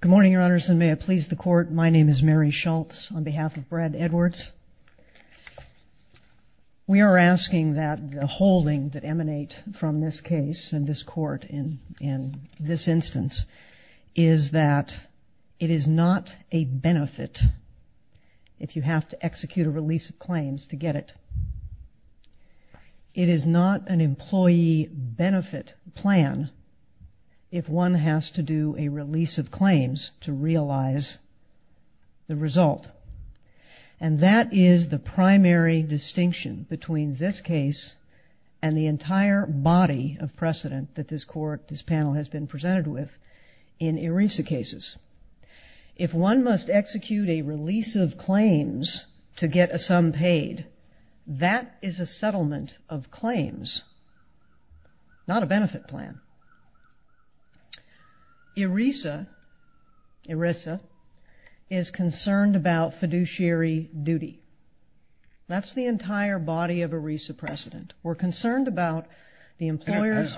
Good morning, Your Honors, and may it please the Court, my name is Mary Schultz on behalf of Brad Edwards. We are asking that the holding that emanates from this case and this Court in this instance is that it is not a benefit if you have to execute a release of claims to get it. It is not an employee benefit plan if one has to do a release of claims to realize the result. And that is the primary distinction between this case and the entire body of precedent that this Court, this panel has been presented with in ERISA cases. If one must execute a release of claims to get a sum paid, that is a settlement of claims, not a benefit plan. ERISA is concerned about fiduciary duty. That's the entire body of ERISA precedent. We're concerned about the employer's... Whether it's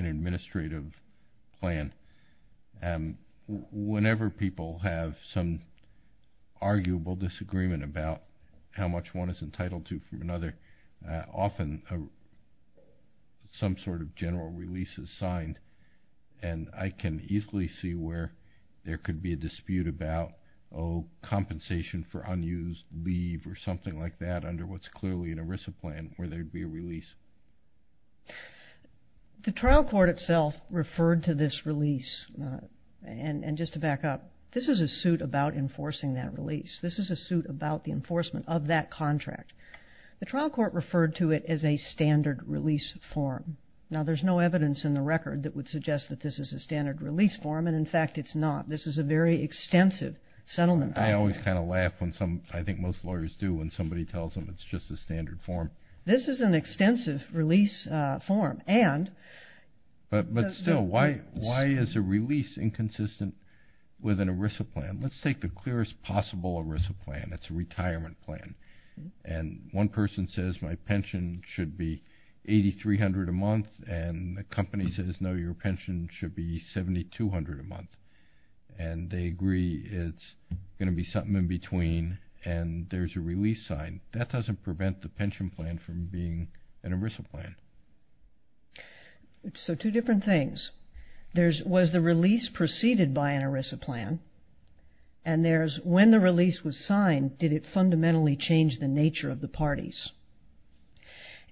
an administrative plan, whenever people have some arguable disagreement about how much one is entitled to from another, often some sort of general release is signed. And I can easily see where there could be a dispute about, oh, compensation for unused leave or something like that under what's clearly an ERISA plan where there'd be a release. The trial court itself referred to this release, and just to back up, this is a suit about enforcing that release. This is a suit about the enforcement of that contract. The trial court referred to it as a standard release form. Now there's no evidence in the record that would suggest that this is a standard release form, and in fact it's not. This is a very extensive settlement. I always kind of laugh when some... I think most lawyers do when somebody tells them it's just a standard form. This is an extensive release form, and... But still, why is a release inconsistent with an ERISA plan? Let's take the clearest possible ERISA plan. It's a retirement plan. And one person says my pension should be $8,300 a month, and the company says, no, your pension should be $7,200 a month. And they agree it's going to be something in between, and there's a release sign. That doesn't prevent the pension plan from being an ERISA plan. So two different things. Was the release preceded by an ERISA plan? And when the release was signed, did it fundamentally change the nature of the parties?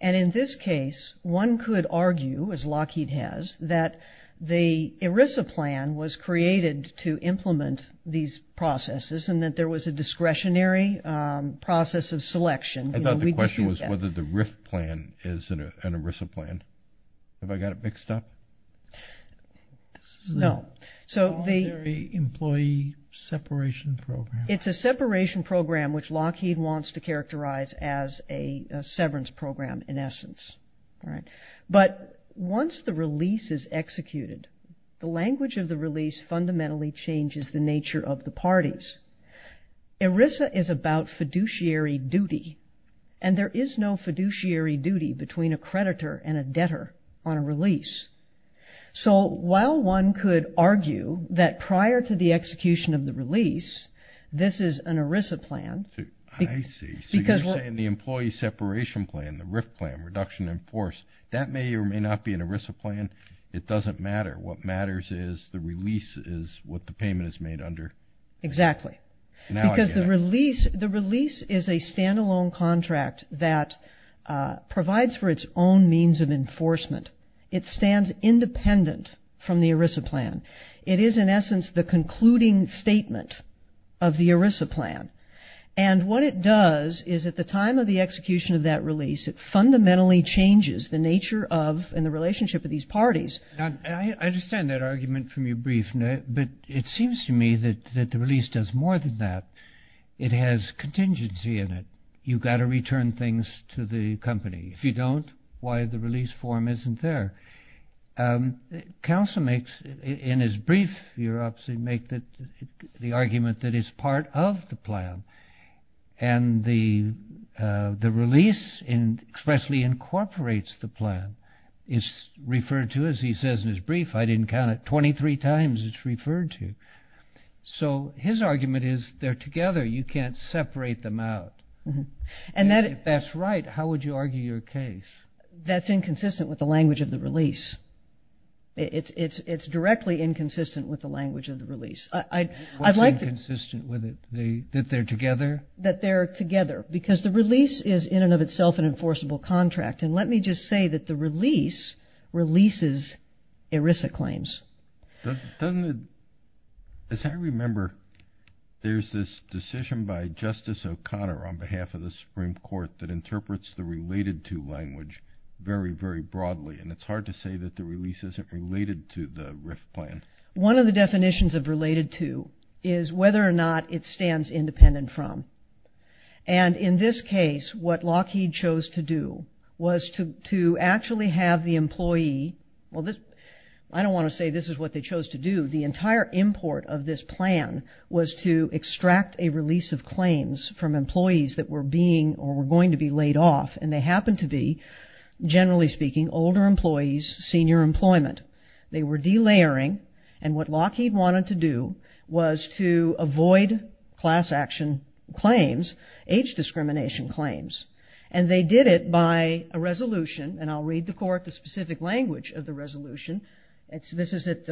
And in this case, one could argue, as Lockheed has, that the ERISA plan was created to implement these processes, and that there was a discretionary process of selection. I thought the question was whether the RIF plan is an ERISA plan. Have I got it mixed up? No. So the... Is there an employee separation program? It's a separation program, which Lockheed wants to characterize as a severance program in essence. But once the release is executed, the language of the release fundamentally changes the nature of the parties. ERISA is about fiduciary duty, and there is no fiduciary duty between a creditor and a debtor on a release. So while one could argue that prior to the execution of the release, this is an ERISA plan... I see. So you're saying the employee separation plan, the RIF plan, reduction in force, that may or may not be an ERISA plan. It doesn't matter. What matters is the release is what the payment is made under. Exactly. Because the release is a standalone contract that provides for its own means of enforcement. It stands independent from the ERISA plan. It is in essence the concluding statement of the ERISA plan. And what it does is at the time of the execution of that release, it fundamentally changes the nature of and the relationship of these parties. I understand that argument from your brief, but it seems to me that the release does more than that. It has contingency in it. You've got to return things to the company. If you don't, why the release form isn't there? Counsel makes, in his brief, you obviously make the argument that it's part of the plan. And the release expressly incorporates the plan. It's referred to, as he says in his brief, I didn't count it, 23 times it's referred to. So his argument is they're together. You can't separate them out. If that's right, how would you argue your case? That's inconsistent with the language of the release. It's directly inconsistent with the language of the release. What's inconsistent with it? That they're together? That they're together. Because the release is in and of itself an enforceable contract. And let me just say that the release releases ERISA claims. Doesn't it, as I remember, there's this decision by Justice O'Connor on behalf of the Supreme Court that interprets the related to language very, very broadly. And it's hard to say that the release isn't related to the RIF plan. One of the definitions of related to is whether or not it stands independent from. And in this case, what Lockheed chose to do was to actually have the employee, well this, I don't want to say this is what they chose to do, the entire import of this plan was to extract a release of claims from employees that were being or were going to be laid off. And they happened to be, generally speaking, older employees, senior employment. They were de-layering. And what Lockheed wanted to do was to avoid class action claims, age discrimination claims. And they did it by a resolution. And I'll read the court the specific language of the resolution. This is at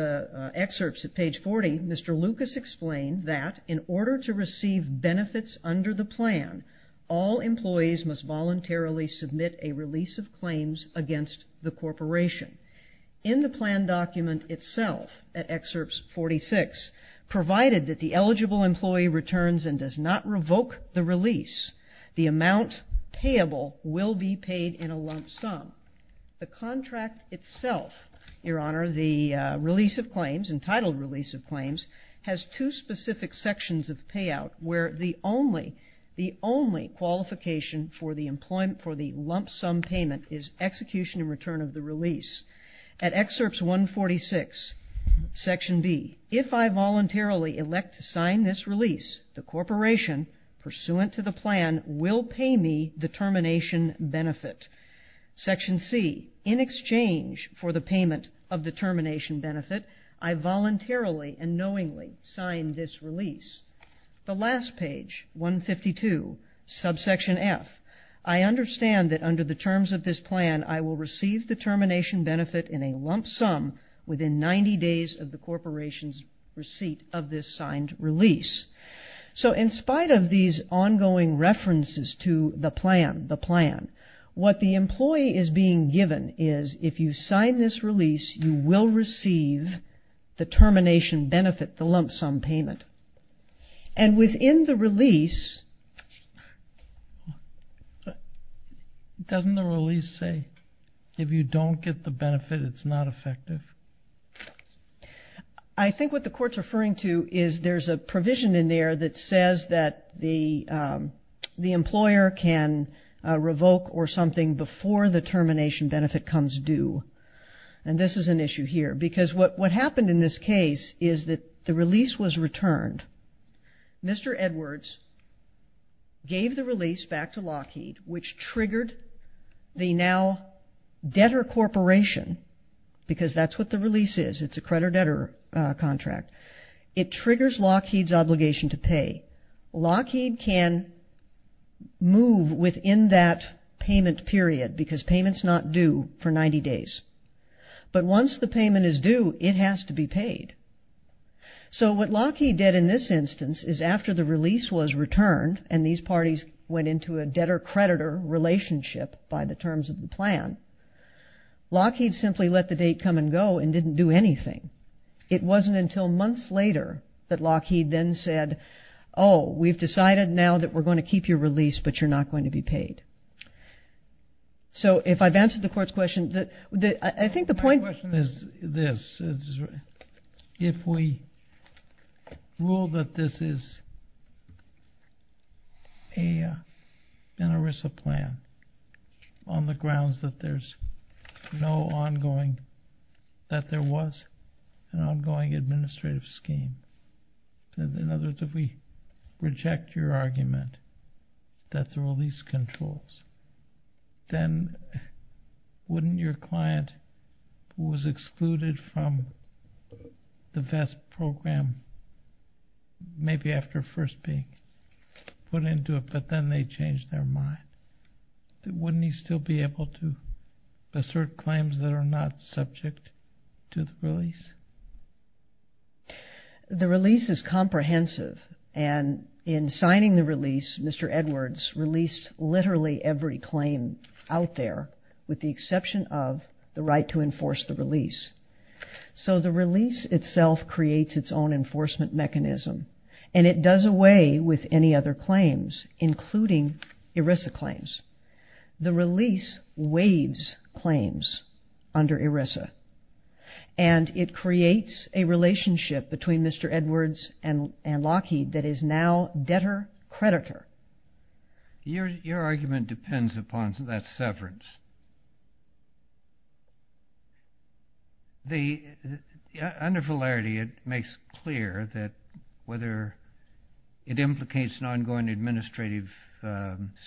excerpts at page 40. Mr. Lucas explained that in order to receive benefits under the plan, all employees must voluntarily submit a release of claims against the corporation. In the plan document itself, at excerpts 46, provided that the eligible employee returns and does not revoke the release, the amount payable will be paid in a lump sum. The contract itself, your honor, the release of claims, entitled release of claims, has two specific sections of payout where the only, the only qualification for the employment, for the lump sum payment is execution in return of the release. At excerpts 146, section B, if I voluntarily elect to sign this release, the corporation pursuant to the plan will pay me the termination benefit. Section C, in exchange for the payment of the termination benefit, I voluntarily and knowingly sign this release. The last page, 152, subsection F, I understand that under the terms of this plan, I will receive the termination benefit in a lump sum within 90 days of the corporation's receipt of this signed release. So in spite of these ongoing references to the plan, the plan, what the employee is being given is if you sign this release, you will receive the termination benefit, the lump sum payment. And within the release, doesn't the release say if you don't get the benefit, it's not effective? I think what the court's referring to is there's a provision in there that says that the employer can revoke or something before the termination benefit comes due. And this is an issue here. Because what happened in this case is that the release was returned. Mr. Edwards gave the release back to Lockheed, which triggered the now debtor corporation, because that's what the release is, it's a creditor-debtor contract. It triggers Lockheed's obligation to pay. Lockheed can move within that payment period, because payment's not due for 90 days. But once the payment is due, it has to be paid. So what Lockheed did in this instance is after the release was returned and these parties went into a debtor-creditor relationship by the terms of the plan, Lockheed simply let the date come and go and didn't do anything. It wasn't until months later that Lockheed then said, oh, we've decided now that we're going to keep your release, but you're not going to be paid. So if I've answered the court's question, I think the point is this. If we rule that this is an ERISA plan on the grounds that there's no ongoing, that there was an ongoing administrative scheme, in other words, if we reject your argument that the release controls, then wouldn't your client who was excluded from the VEST program, maybe after first being put into it, but then they changed their mind, wouldn't he still be able to assert claims that are not subject to the release? The release is comprehensive and in signing the release, Mr. Edwards released literally every claim out there with the exception of the right to enforce the release. So the release itself creates its own enforcement mechanism and it does away with any other claims, including ERISA claims. The release waives claims under ERISA, and it creates a relationship between Mr. Edwards and Lockheed that is now debtor-creditor. Your argument depends upon that severance. Under Fullerity, it makes clear that whether it implicates an ongoing administrative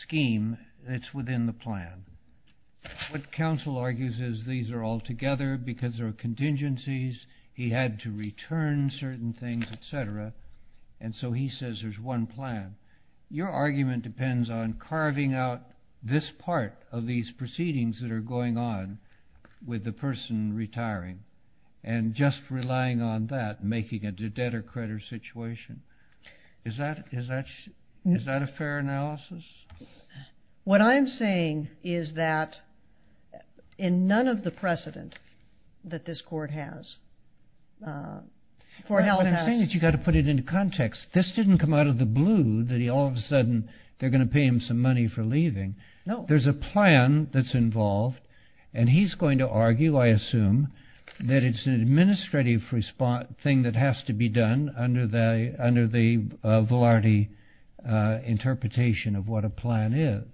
scheme, it's within the plan. What counsel argues is these are all together because there are contingencies, he had to return certain things, et cetera, and so he says there's one plan. Your argument depends on carving out this part of these proceedings that are going on with the person retiring, and just relying on that, making it a debtor-creditor situation. Is that a fair analysis? What I'm saying is that in none of the precedent that this court has, for Hell Passed. What I'm saying is you've got to put it into context. This didn't come out of the blue that all of a sudden they're going to pay him some money for leaving. There's a plan that's involved, and he's going to argue, I assume, that it's an administrative thing that has to be done under the Fullerity interpretation of what a plan is.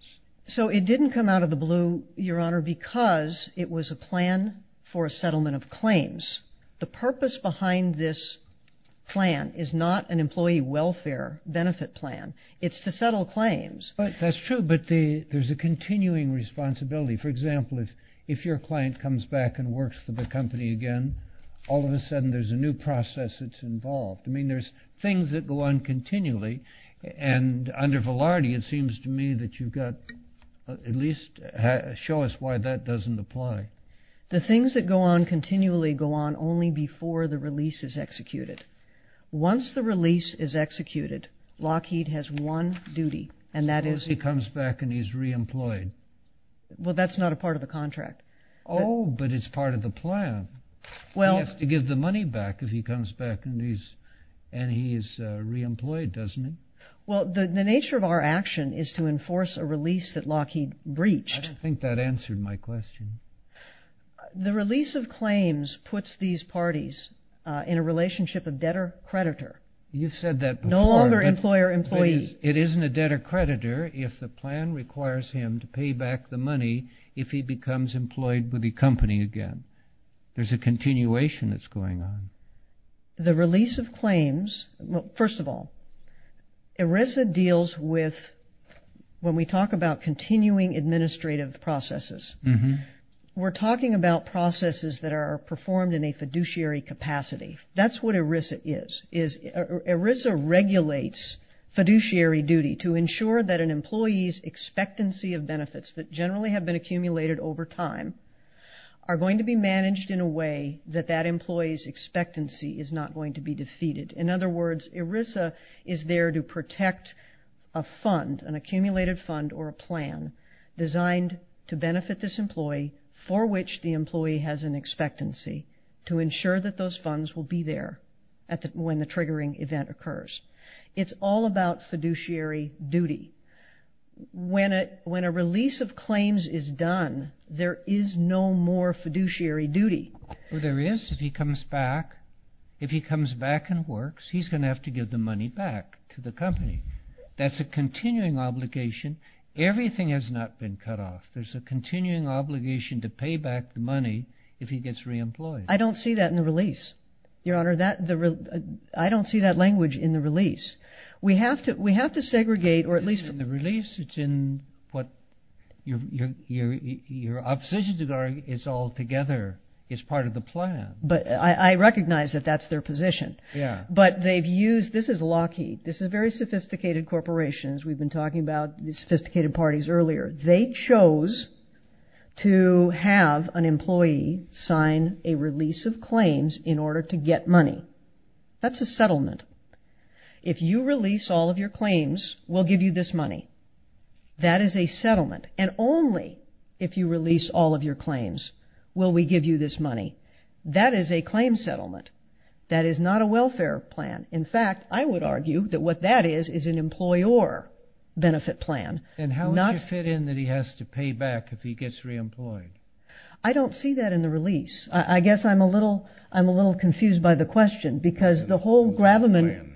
So it didn't come out of the blue, Your Honor, because it was a plan for a settlement of claims. The purpose behind this plan is not an employee welfare benefit plan. It's to settle claims. That's true, but there's a continuing responsibility. For example, if your client comes back and works for the company again, all of a sudden there's a new process that's involved. There's things that go on continually, and under Fullerity it seems to me that you've got at least show us why that doesn't apply. The things that go on continually go on only before the release is executed. Once the release is executed, Lockheed has one duty, and that is... Suppose he comes back and he's re-employed. Well that's not a part of the contract. Oh, but it's part of the plan. He has to give the money back if he comes back and he's re-employed, doesn't he? Well the nature of our action is to enforce a release that Lockheed breached. I don't think that answered my question. The release of claims puts these parties in a relationship of debtor-creditor. You said that before. No longer employer-employee. It isn't a debtor-creditor if the plan requires him to pay back the money if he becomes employed with the company again. There's a continuation that's going on. The release of claims... First of all, ERISA deals with... When we talk about continuing administrative processes, we're talking about processes that are performed in a fiduciary capacity. That's what ERISA is. ERISA regulates fiduciary duty to ensure that an employee's expectancy of benefits that generally have been accumulated over time are going to be managed in a way that that employee's expectancy is not going to be defeated. In other words, ERISA is there to protect a fund, an accumulated fund or a plan designed to benefit this employee for which the employee has an expectancy to ensure that those funds will be there when the triggering event occurs. It's all about fiduciary duty. When a release of claims is done, there is no more fiduciary duty. There is if he comes back. If he comes back and works, he's going to have to give the money back to the company. That's a continuing obligation. Everything has not been cut off. There's a continuing obligation to pay back the money if he gets reemployed. I don't see that in the release, Your Honor. I don't see that language in the release. We have to segregate or at least... In the release, it's in what your oppositions are, it's all together, it's part of the plan. But I recognize that that's their position. But they've used... This is Lockheed. This is very sophisticated corporations. We've been talking about sophisticated parties earlier. They chose to have an employee sign a release of claims in order to get money. That's a settlement. If you release all of your claims, we'll give you this money. That is a settlement. And only if you release all of your claims will we give you this money. That is a claim settlement. That is not a welfare plan. In fact, I would argue that what that is is an employer benefit plan. And how would you fit in that he has to pay back if he gets reemployed? I don't see that in the release. I guess I'm a little confused by the question because the whole grabberman...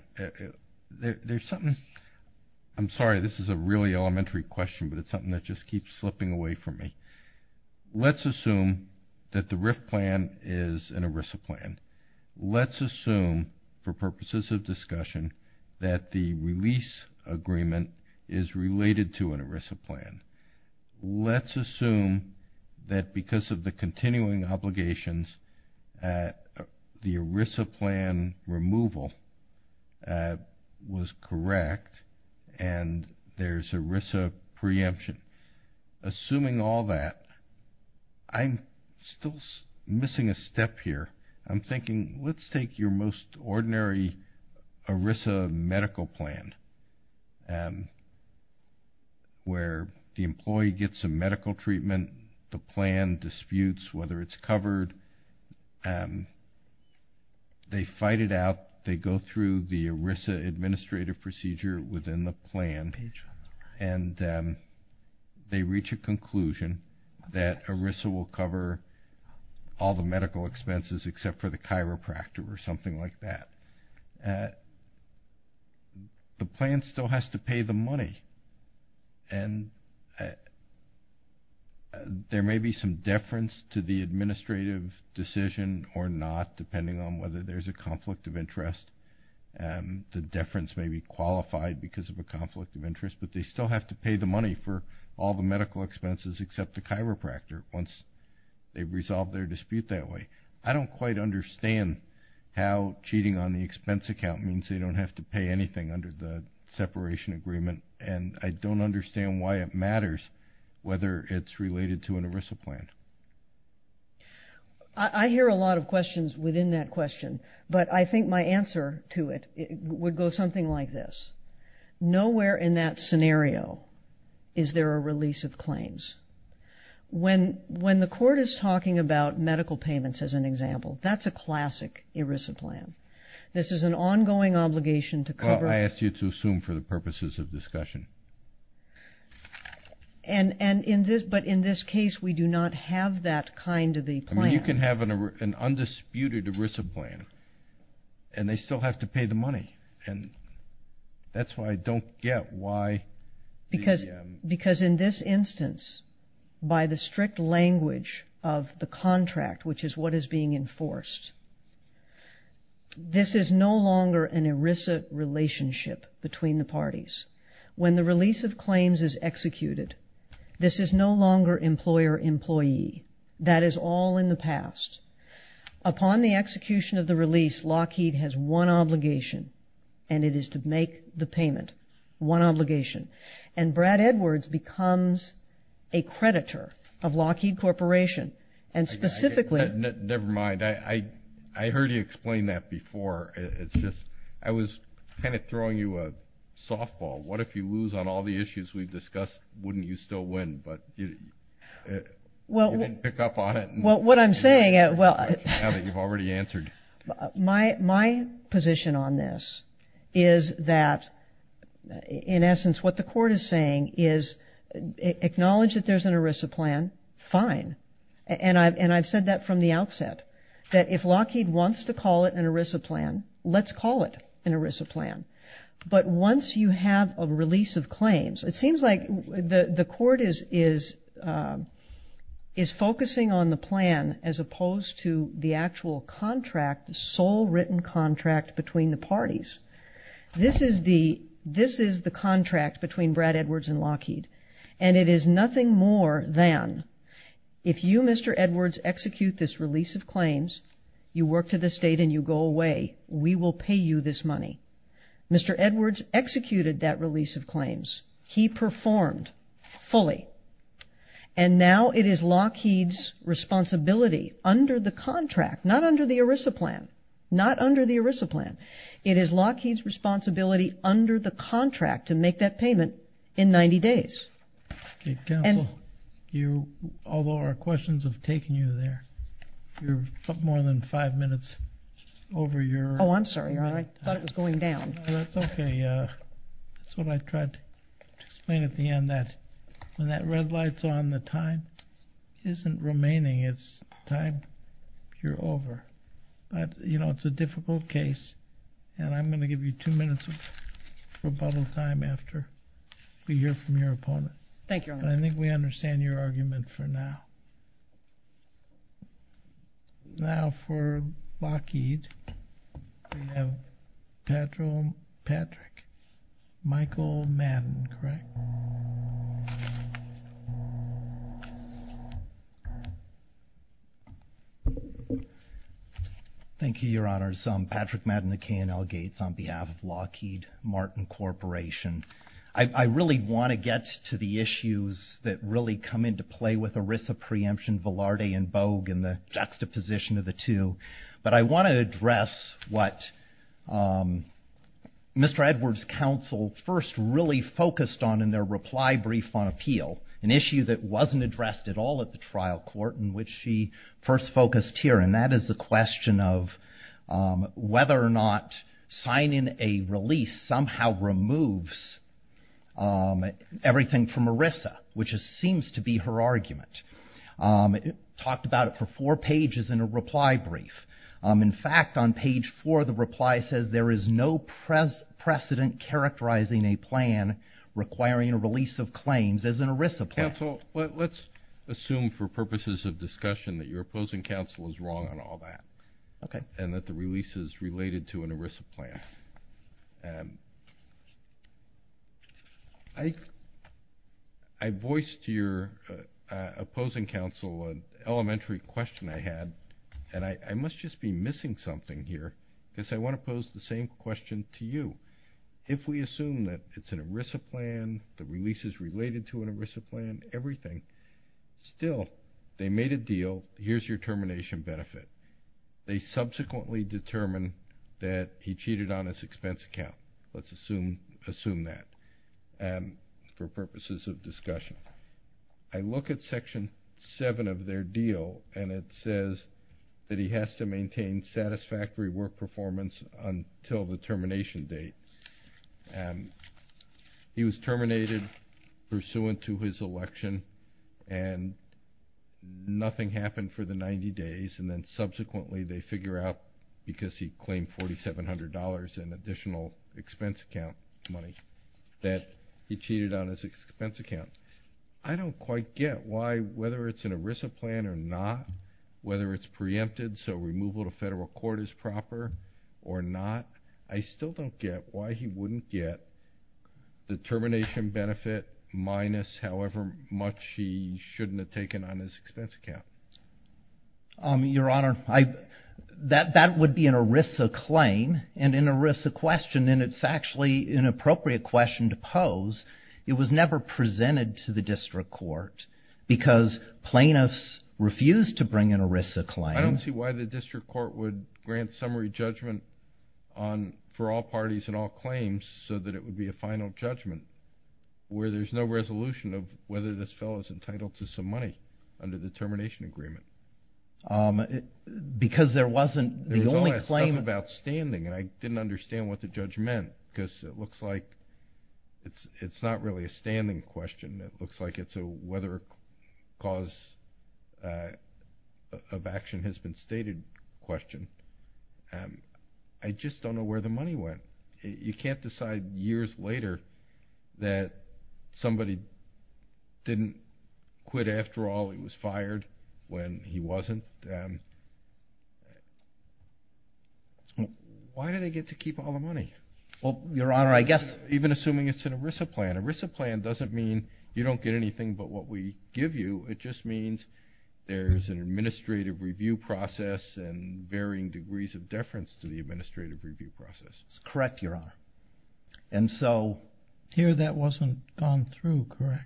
There's something... I'm sorry, this is a really elementary question, but it's something that just keeps slipping away from me. Let's assume that the RIF plan is an ERISA plan. Let's assume, for purposes of discussion, that the release agreement is related to an ERISA plan. Let's assume that because of the continuing obligations that the ERISA plan removal was correct and there's ERISA preemption. Assuming all that, I'm still missing a step here. I'm thinking, let's take your most ordinary ERISA medical plan where the employee gets a medical treatment, the plan disputes whether it's covered. They fight it out. They go through the ERISA administrative procedure within the plan and they reach a conclusion that ERISA will cover all the medical expenses except for the chiropractor or something like that. The plan still has to pay the money. And there may be some deference to the administrative decision or not, depending on whether there's a conflict of interest. And the deference may be qualified because of a conflict of interest, but they still have to pay the money for all the medical expenses except the chiropractor once they've resolved their dispute that way. I don't quite understand how cheating on the expense account means they don't have to pay anything under the separation agreement and I don't understand why it matters whether it's related to an ERISA plan. I hear a lot of questions within that question, but I think my answer to it would go something like this. Nowhere in that scenario is there a release of claims. When the court is talking about medical payments as an example, that's a classic ERISA plan. This is an ongoing obligation to cover- I asked you to assume for the purposes of discussion. But in this case, we do not have that kind of a plan. You can have an undisputed ERISA plan and they still have to pay the money. That's why I don't get why- Because in this instance, by the strict language of the contract, which is what is being enforced, this is no longer an ERISA relationship between the parties. When the release of claims is executed, this is no longer employer-employee. That is all in the past. Upon the execution of the release, Lockheed has one obligation and it is to make the payment, one obligation. And Brad Edwards becomes a creditor of Lockheed Corporation and specifically- I heard you explain that before. It's just, I was kind of throwing you a softball. What if you lose on all the issues we've discussed, wouldn't you still win? But you didn't pick up on it. Well, what I'm saying- Well, now that you've already answered. My position on this is that, in essence, what the court is saying is, acknowledge that there's an ERISA plan, fine. And I've said that from the outset, that if Lockheed wants to call it an ERISA plan, let's call it an ERISA plan. But once you have a release of claims, it seems like the court is focusing on the plan as opposed to the actual contract, the sole written contract between the parties. This is the contract between Brad Edwards and Lockheed. And it is nothing more than, if you, Mr. Edwards, execute this release of claims, you work to this date and you go away, we will pay you this money. Mr. Edwards executed that release of claims. He performed fully. And now it is Lockheed's responsibility under the contract, not under the ERISA plan, not under the ERISA plan. It is Lockheed's responsibility under the contract to make that payment in 90 days. Okay, counsel, although our questions have taken you there, you're more than five minutes over your- Oh, I'm sorry, Your Honor, I thought it was going down. No, that's okay. That's what I tried to explain at the end, that when that red light's on, the time isn't remaining, it's time you're over. You know, it's a difficult case, and I'm gonna give you two minutes of rebuttal time after we hear from your opponent. Thank you, Your Honor. But I think we understand your argument for now. Now for Lockheed, we have Patrick Michael Madden, correct? Thank you, Your Honors. Patrick Madden at K&L Gates on behalf of Lockheed Martin Corporation. I really want to get to the issues that really come into play with ERISA preemption, Velarde and Bogue, and the juxtaposition of the two. But I want to address what Mr. Edwards' counsel first really focused on in their reply brief on appeal, an issue that wasn't addressed at all at the trial court, in which she first focused here, and that is the question of whether or not signing a release somehow removes everything from ERISA, which seems to be her argument. Talked about it for four pages in a reply brief. In fact, on page four, the reply says, there is no precedent characterizing a plan requiring a release of claims as an ERISA plan. Counsel, let's assume for purposes of discussion that your opposing counsel is wrong on all that, and that the release is related to an ERISA plan. I voiced to your opposing counsel an elementary question I had, and I must just be missing something here, because I want to pose the same question to you. If we assume that it's an ERISA plan, the release is related to an ERISA plan, everything, still, they made a deal, here's your termination benefit. They subsequently determined that he cheated on his expense account. Let's assume that, for purposes of discussion. I look at section seven of their deal, and it says that he has to maintain satisfactory work performance until the termination date. He was terminated pursuant to his election, and nothing happened for the 90 days, and then subsequently they figure out, because he claimed $4,700 in additional expense account money, that he cheated on his expense account. I don't quite get why, whether it's an ERISA plan or not, whether it's preempted, so removal to federal court is proper or not, I still don't get why he wouldn't get the termination benefit minus however much he shouldn't have taken on his expense account. Your Honor, that would be an ERISA claim, and an ERISA question, and it's actually an appropriate question to pose. It was never presented to the district court, because plaintiffs refused to bring an ERISA claim. I don't see why the district court would grant summary judgment for all parties and all claims, so that it would be a final judgment, where there's no resolution of whether this fellow is entitled to some money under the termination agreement. Because there wasn't, the only claim. There was a lot of stuff about standing, and I didn't understand what the judge meant, because it looks like it's not really a standing question, it looks like it's a whether a cause of action has been stated question. I just don't know where the money went. You can't decide years later that somebody didn't quit after all, he was fired when he wasn't. Why do they get to keep all the money? Well, Your Honor, I guess. Even assuming it's an ERISA plan. ERISA plan doesn't mean you don't get anything but what we give you, it just means there's an administrative review process, and varying degrees of deference to the administrative review process. That's correct, Your Honor. And so, here that wasn't gone through, correct?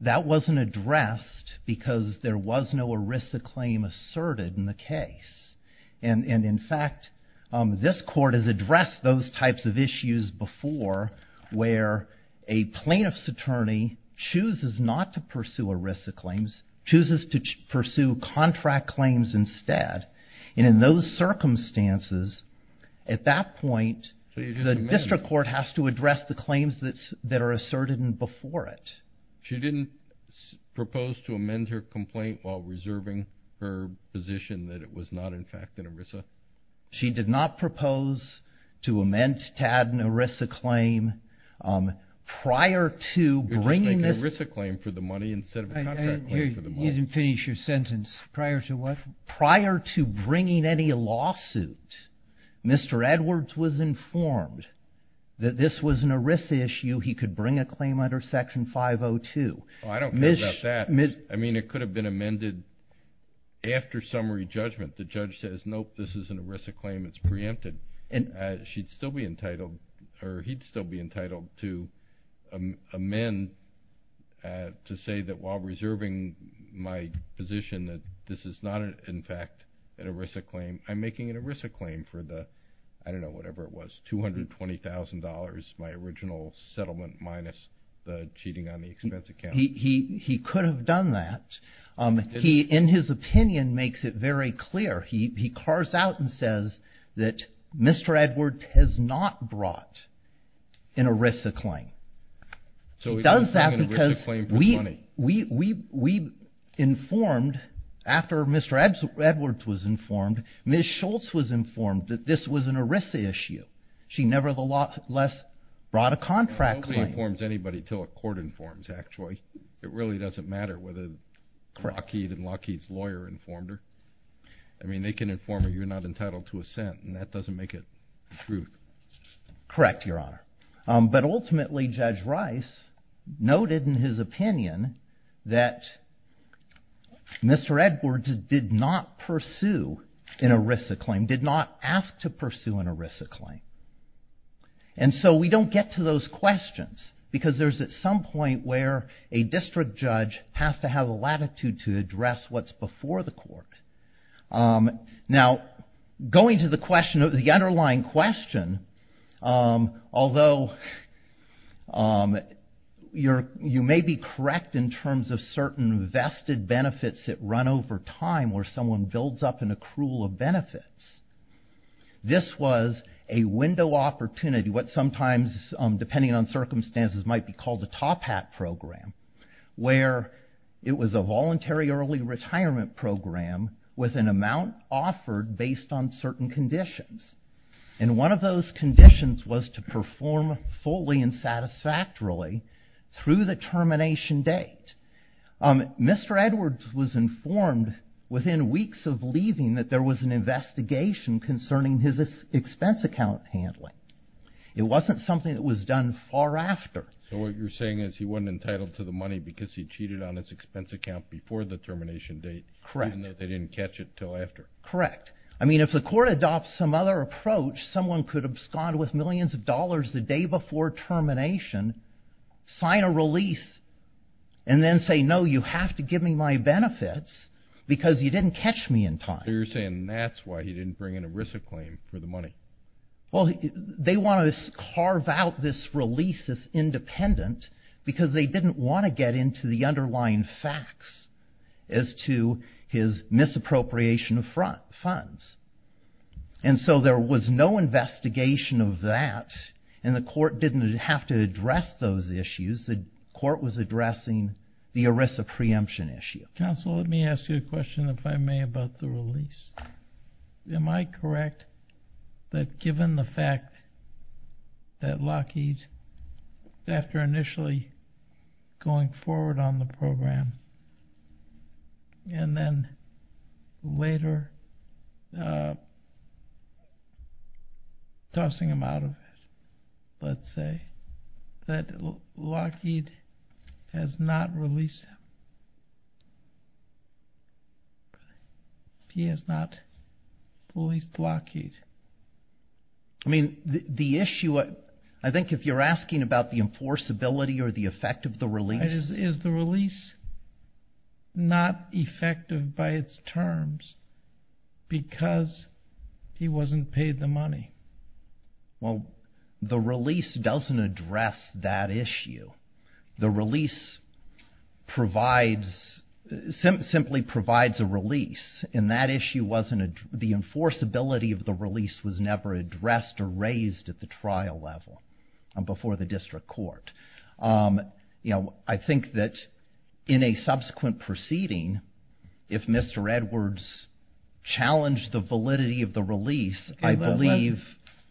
That wasn't addressed because there was no ERISA claim asserted in the case. And in fact, this court has addressed those types of issues before, where a plaintiff's attorney chooses not to pursue ERISA claims, chooses to pursue contract claims instead. And in those circumstances, at that point, the district court has to address the claims that are asserted before it. She didn't propose to amend her complaint while reserving her position that it was not, in fact, an ERISA? She did not propose to amend, to add an ERISA claim prior to bringing this- You're just making an ERISA claim for the money instead of a contract claim for the money. You didn't finish your sentence. Prior to what? Prior to bringing any lawsuit, Mr. Edwards was informed that this was an ERISA issue. He could bring a claim under Section 502. I don't care about that. I mean, it could have been amended after summary judgment. The judge says, nope, this is an ERISA claim. It's preempted. She'd still be entitled, or he'd still be entitled to amend to say that while reserving my position that this is not, in fact, an ERISA claim, I'm making an ERISA claim for the, I don't know, whatever it was, $220,000, my original settlement minus the cheating on the expense account. He could have done that. He, in his opinion, makes it very clear. He cars out and says that Mr. Edwards has not brought an ERISA claim. He does that because we informed, after Mr. Edwards was informed, Ms. Schultz was informed that this was an ERISA issue. She nevertheless brought a contract claim. Nobody informs anybody until a court informs, actually. It really doesn't matter whether Lockheed and Lockheed's lawyer informed her. I mean, they can inform her you're not entitled to assent, and that doesn't make it the truth. Correct, Your Honor. But ultimately, Judge Rice noted in his opinion that Mr. Edwards did not pursue an ERISA claim, did not ask to pursue an ERISA claim. And so we don't get to those questions because there's at some point where a district judge has to have a latitude to address what's before the court. Now, going to the underlying question, although you may be correct in terms of certain vested benefits that run over time where someone builds up an accrual of benefits, this was a window opportunity, what sometimes, depending on circumstances, might be called a top hat program, where it was a voluntary early retirement program with an amount offered based on certain conditions. And one of those conditions was to perform fully and satisfactorily through the termination date. Mr. Edwards was informed within weeks of leaving that there was an investigation concerning his expense account handling. It wasn't something that was done far after. So what you're saying is he wasn't entitled to the money because he cheated on his expense account before the termination date. Correct. And they didn't catch it till after. Correct. I mean, if the court adopts some other approach, someone could abscond with millions of dollars the day before termination, sign a release, and then say, no, you have to give me my benefits because you didn't catch me in time. You're saying that's why he didn't bring in a RISA claim for the money. Well, they want to carve out this release as independent because they didn't want to get into the underlying facts as to his misappropriation of funds. And so there was no investigation of that, and the court didn't have to address those issues. The court was addressing the RISA preemption issue. Counsel, let me ask you a question, if I may, about the release. Am I correct that given the fact that Lockheed, after initially going forward on the program, and then later tossing him out of it, let's say, that Lockheed has not released him? He has not released Lockheed? I mean, the issue, I think if you're asking about the enforceability or the effect of the release. Is the release not effective by its terms because he wasn't paid the money? Well, the release doesn't address that issue. The release simply provides a release, and that issue wasn't, the enforceability of the release was never addressed or raised at the trial level and before the district court. I think that in a subsequent proceeding, if Mr. Edwards challenged the validity of the release, I believe.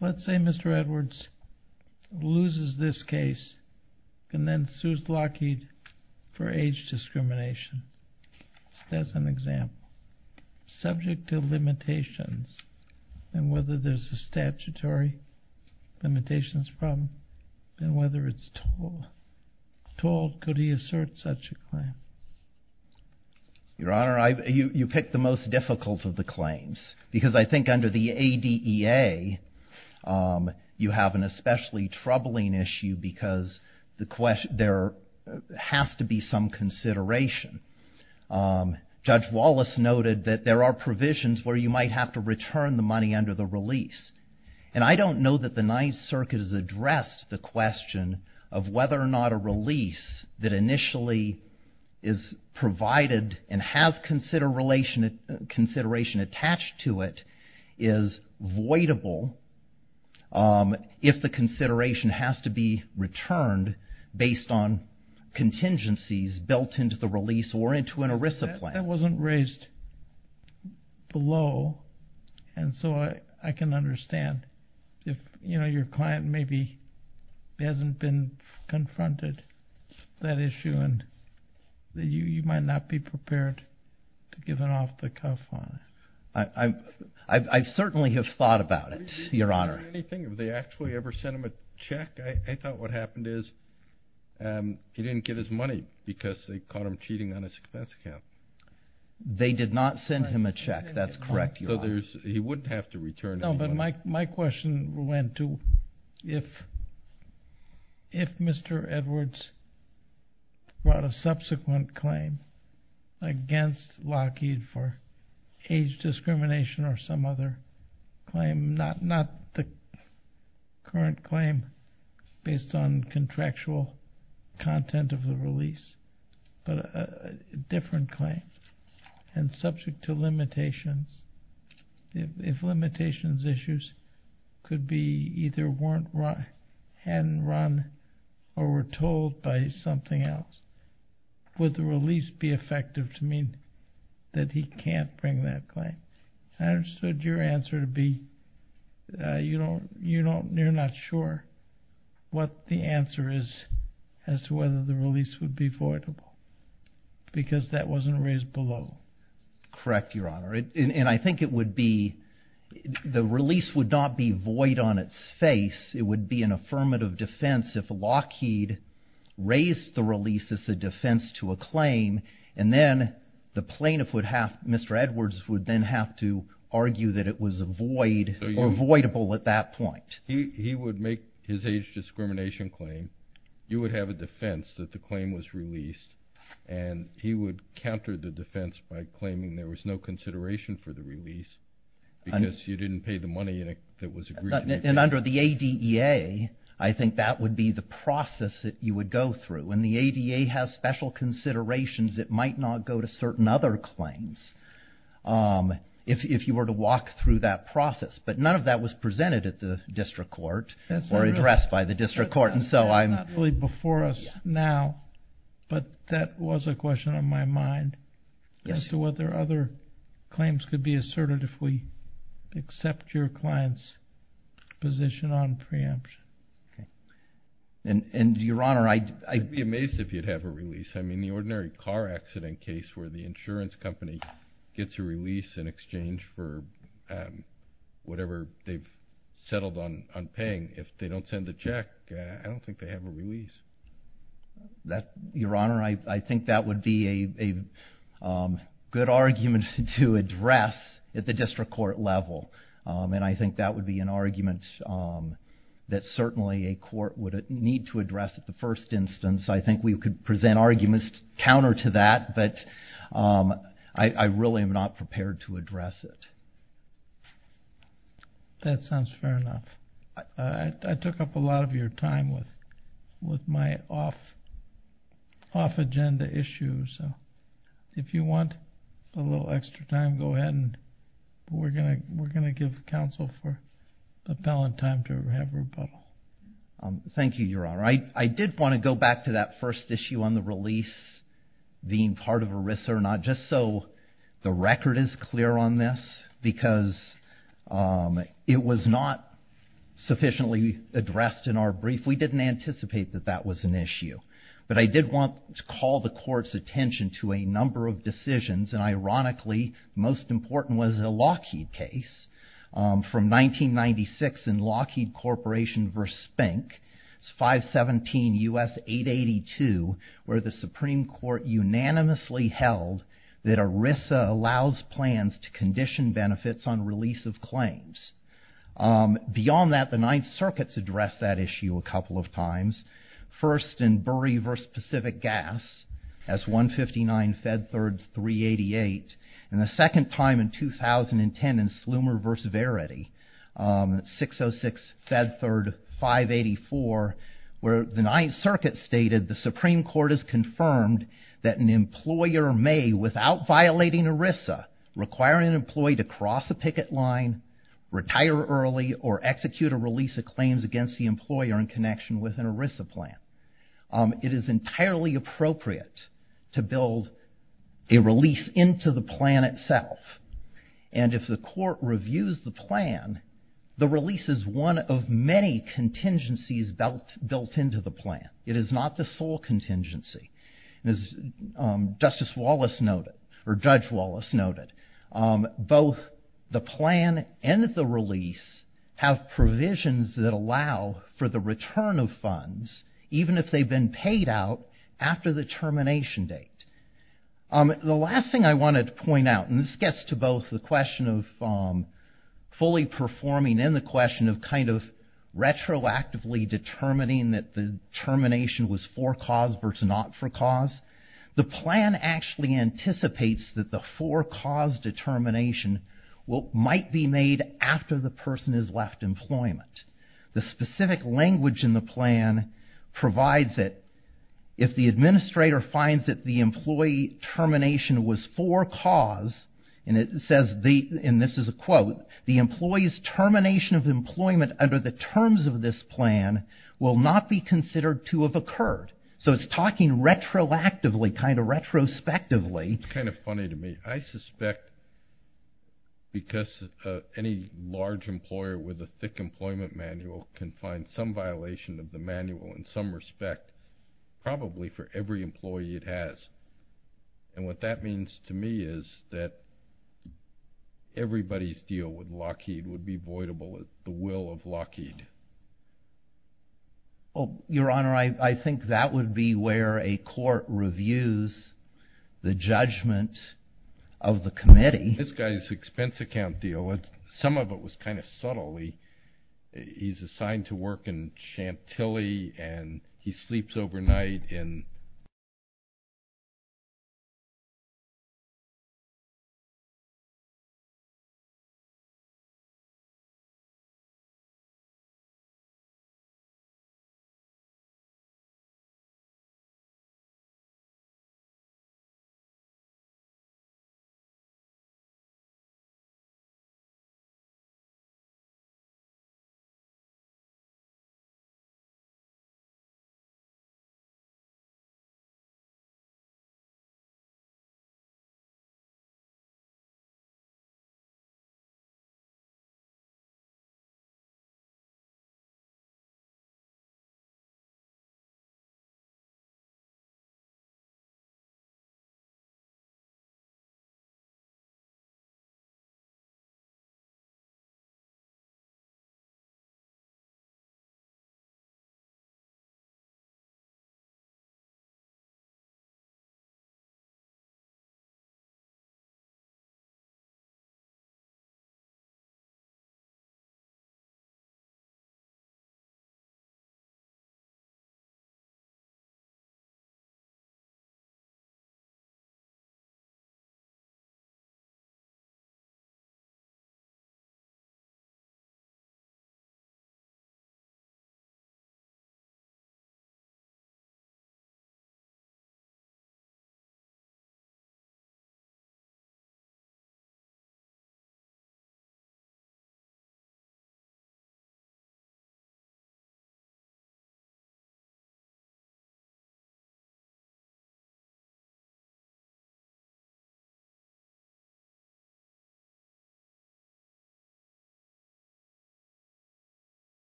Let's say Mr. Edwards loses this case and then sues Lockheed for age discrimination. That's an example. Subject to limitations, and whether there's a statutory limitations problem, and whether it's total. Total, could he assert such a claim? Your Honor, you picked the most difficult of the claims because I think under the ADEA, you have an especially troubling issue because there has to be some consideration. Judge Wallace noted that there are provisions where you might have to return the money under the release. And I don't know that the Ninth Circuit has addressed the question of whether or not a release that initially is provided and has consideration attached to it is voidable if the consideration has to be returned based on contingencies built into the release or into an ERISA plan. That wasn't raised below, and so I can understand if your client maybe hasn't been confronted with that issue and you might not be prepared to give an off-the-cuff on it. I certainly have thought about it, Your Honor. Have you heard anything? Have they actually ever sent him a check? I thought what happened is he didn't get his money because they caught him cheating on his success account. They did not send him a check. That's correct, Your Honor. He wouldn't have to return any money. My question went to if Mr. Edwards brought a subsequent claim against Lockheed for age discrimination or some other claim, not the current claim based on contractual content of the release, but a different claim and subject to limitations. If limitations issues could be either weren't right and run or were told by something else, would the release be effective to mean that he can't bring that claim? I understood your answer to be you're not sure what the answer is as to whether the release would be voidable because that wasn't raised below. Correct, Your Honor, and I think it would be, the release would not be void on its face. It would be an affirmative defense if Lockheed raised the release as a defense to a claim and then the plaintiff would have, Mr. Edwards would then have to argue that it was a void or voidable at that point. He would make his age discrimination claim. You would have a defense that the claim was released and he would counter the defense by claiming there was no consideration for the release because you didn't pay the money that was agreed to be paid. And under the ADEA, I think that would be the process that you would go through. When the ADEA has special considerations, it might not go to certain other claims if you were to walk through that process, but none of that was presented at the district court or addressed by the district court. And so I'm. That's not really before us now, but that was a question on my mind as to whether other claims could be asserted if we accept your client's position on preemption. And Your Honor, I. I'd be amazed if you'd have a release. I mean, the ordinary car accident case where the insurance company gets a release in exchange for whatever they've settled on paying. If they don't send the check, I don't think they have a release. That, Your Honor, I think that would be a good argument to address at the district court level. And I think that would be an argument that certainly a court would need to address at the first instance. I think we could present arguments counter to that, but I really am not prepared to address it. That sounds fair enough. I took up a lot of your time with my off agenda issues. If you want a little extra time, go ahead. And we're going to give counsel for appellant time to have rebuttal. Thank you, Your Honor. I did want to go back to that first issue on the release, being part of ERISA or not, just so the record is clear on this, because it was not sufficiently addressed in our brief. We didn't anticipate that that was an issue. But I did want to call the court's attention to a number of decisions. And ironically, most important was the Lockheed case from 1996 in Lockheed Corporation versus Spink. It's 517 U.S. 882, where the Supreme Court unanimously held that ERISA allows plans to condition benefits on release of claims. Beyond that, the Ninth Circuit's addressed that issue a couple of times. First, in Burry versus Pacific Gas, as 159 Fed Third 388. And the second time in 2010 in Slumer versus Verity, 606 Fed Third 584, where the Ninth Circuit stated the Supreme Court has confirmed that an employer may, without violating ERISA, require an employee to cross a picket line, retire early, or execute a release of claims against the employer in connection with an ERISA plan. It is entirely appropriate to build a release into the plan itself. And if the court reviews the plan, the release is one of many contingencies built into the plan. It is not the sole contingency. As Justice Wallace noted, or Judge Wallace noted, both the plan and the release have provisions that allow for the return of funds, even if they've been paid out after the termination date. The last thing I wanted to point out, and this gets to both the question of fully performing and the question of kind of retroactively determining that the termination was for cause versus not for cause. The plan actually anticipates that the for cause determination might be made after the person has left employment. The specific language in the plan provides that if the administrator finds that the employee termination was for cause, and it says, and this is a quote, the employee's termination of employment under the terms of this plan will not be considered to have occurred. So it's talking retroactively, kind of retrospectively. It's kind of funny to me. I suspect because any large employer with a thick employment manual can find some violation of the manual in some respect, probably for every employee it has. And what that means to me is that everybody's deal with Lockheed would be voidable at the will of Lockheed. Well, your honor, I think that would be where a court reviews the judgment of the committee. This guy's expense account deal, some of it was kind of subtle. He's assigned to work in Chantilly and he sleeps overnight in,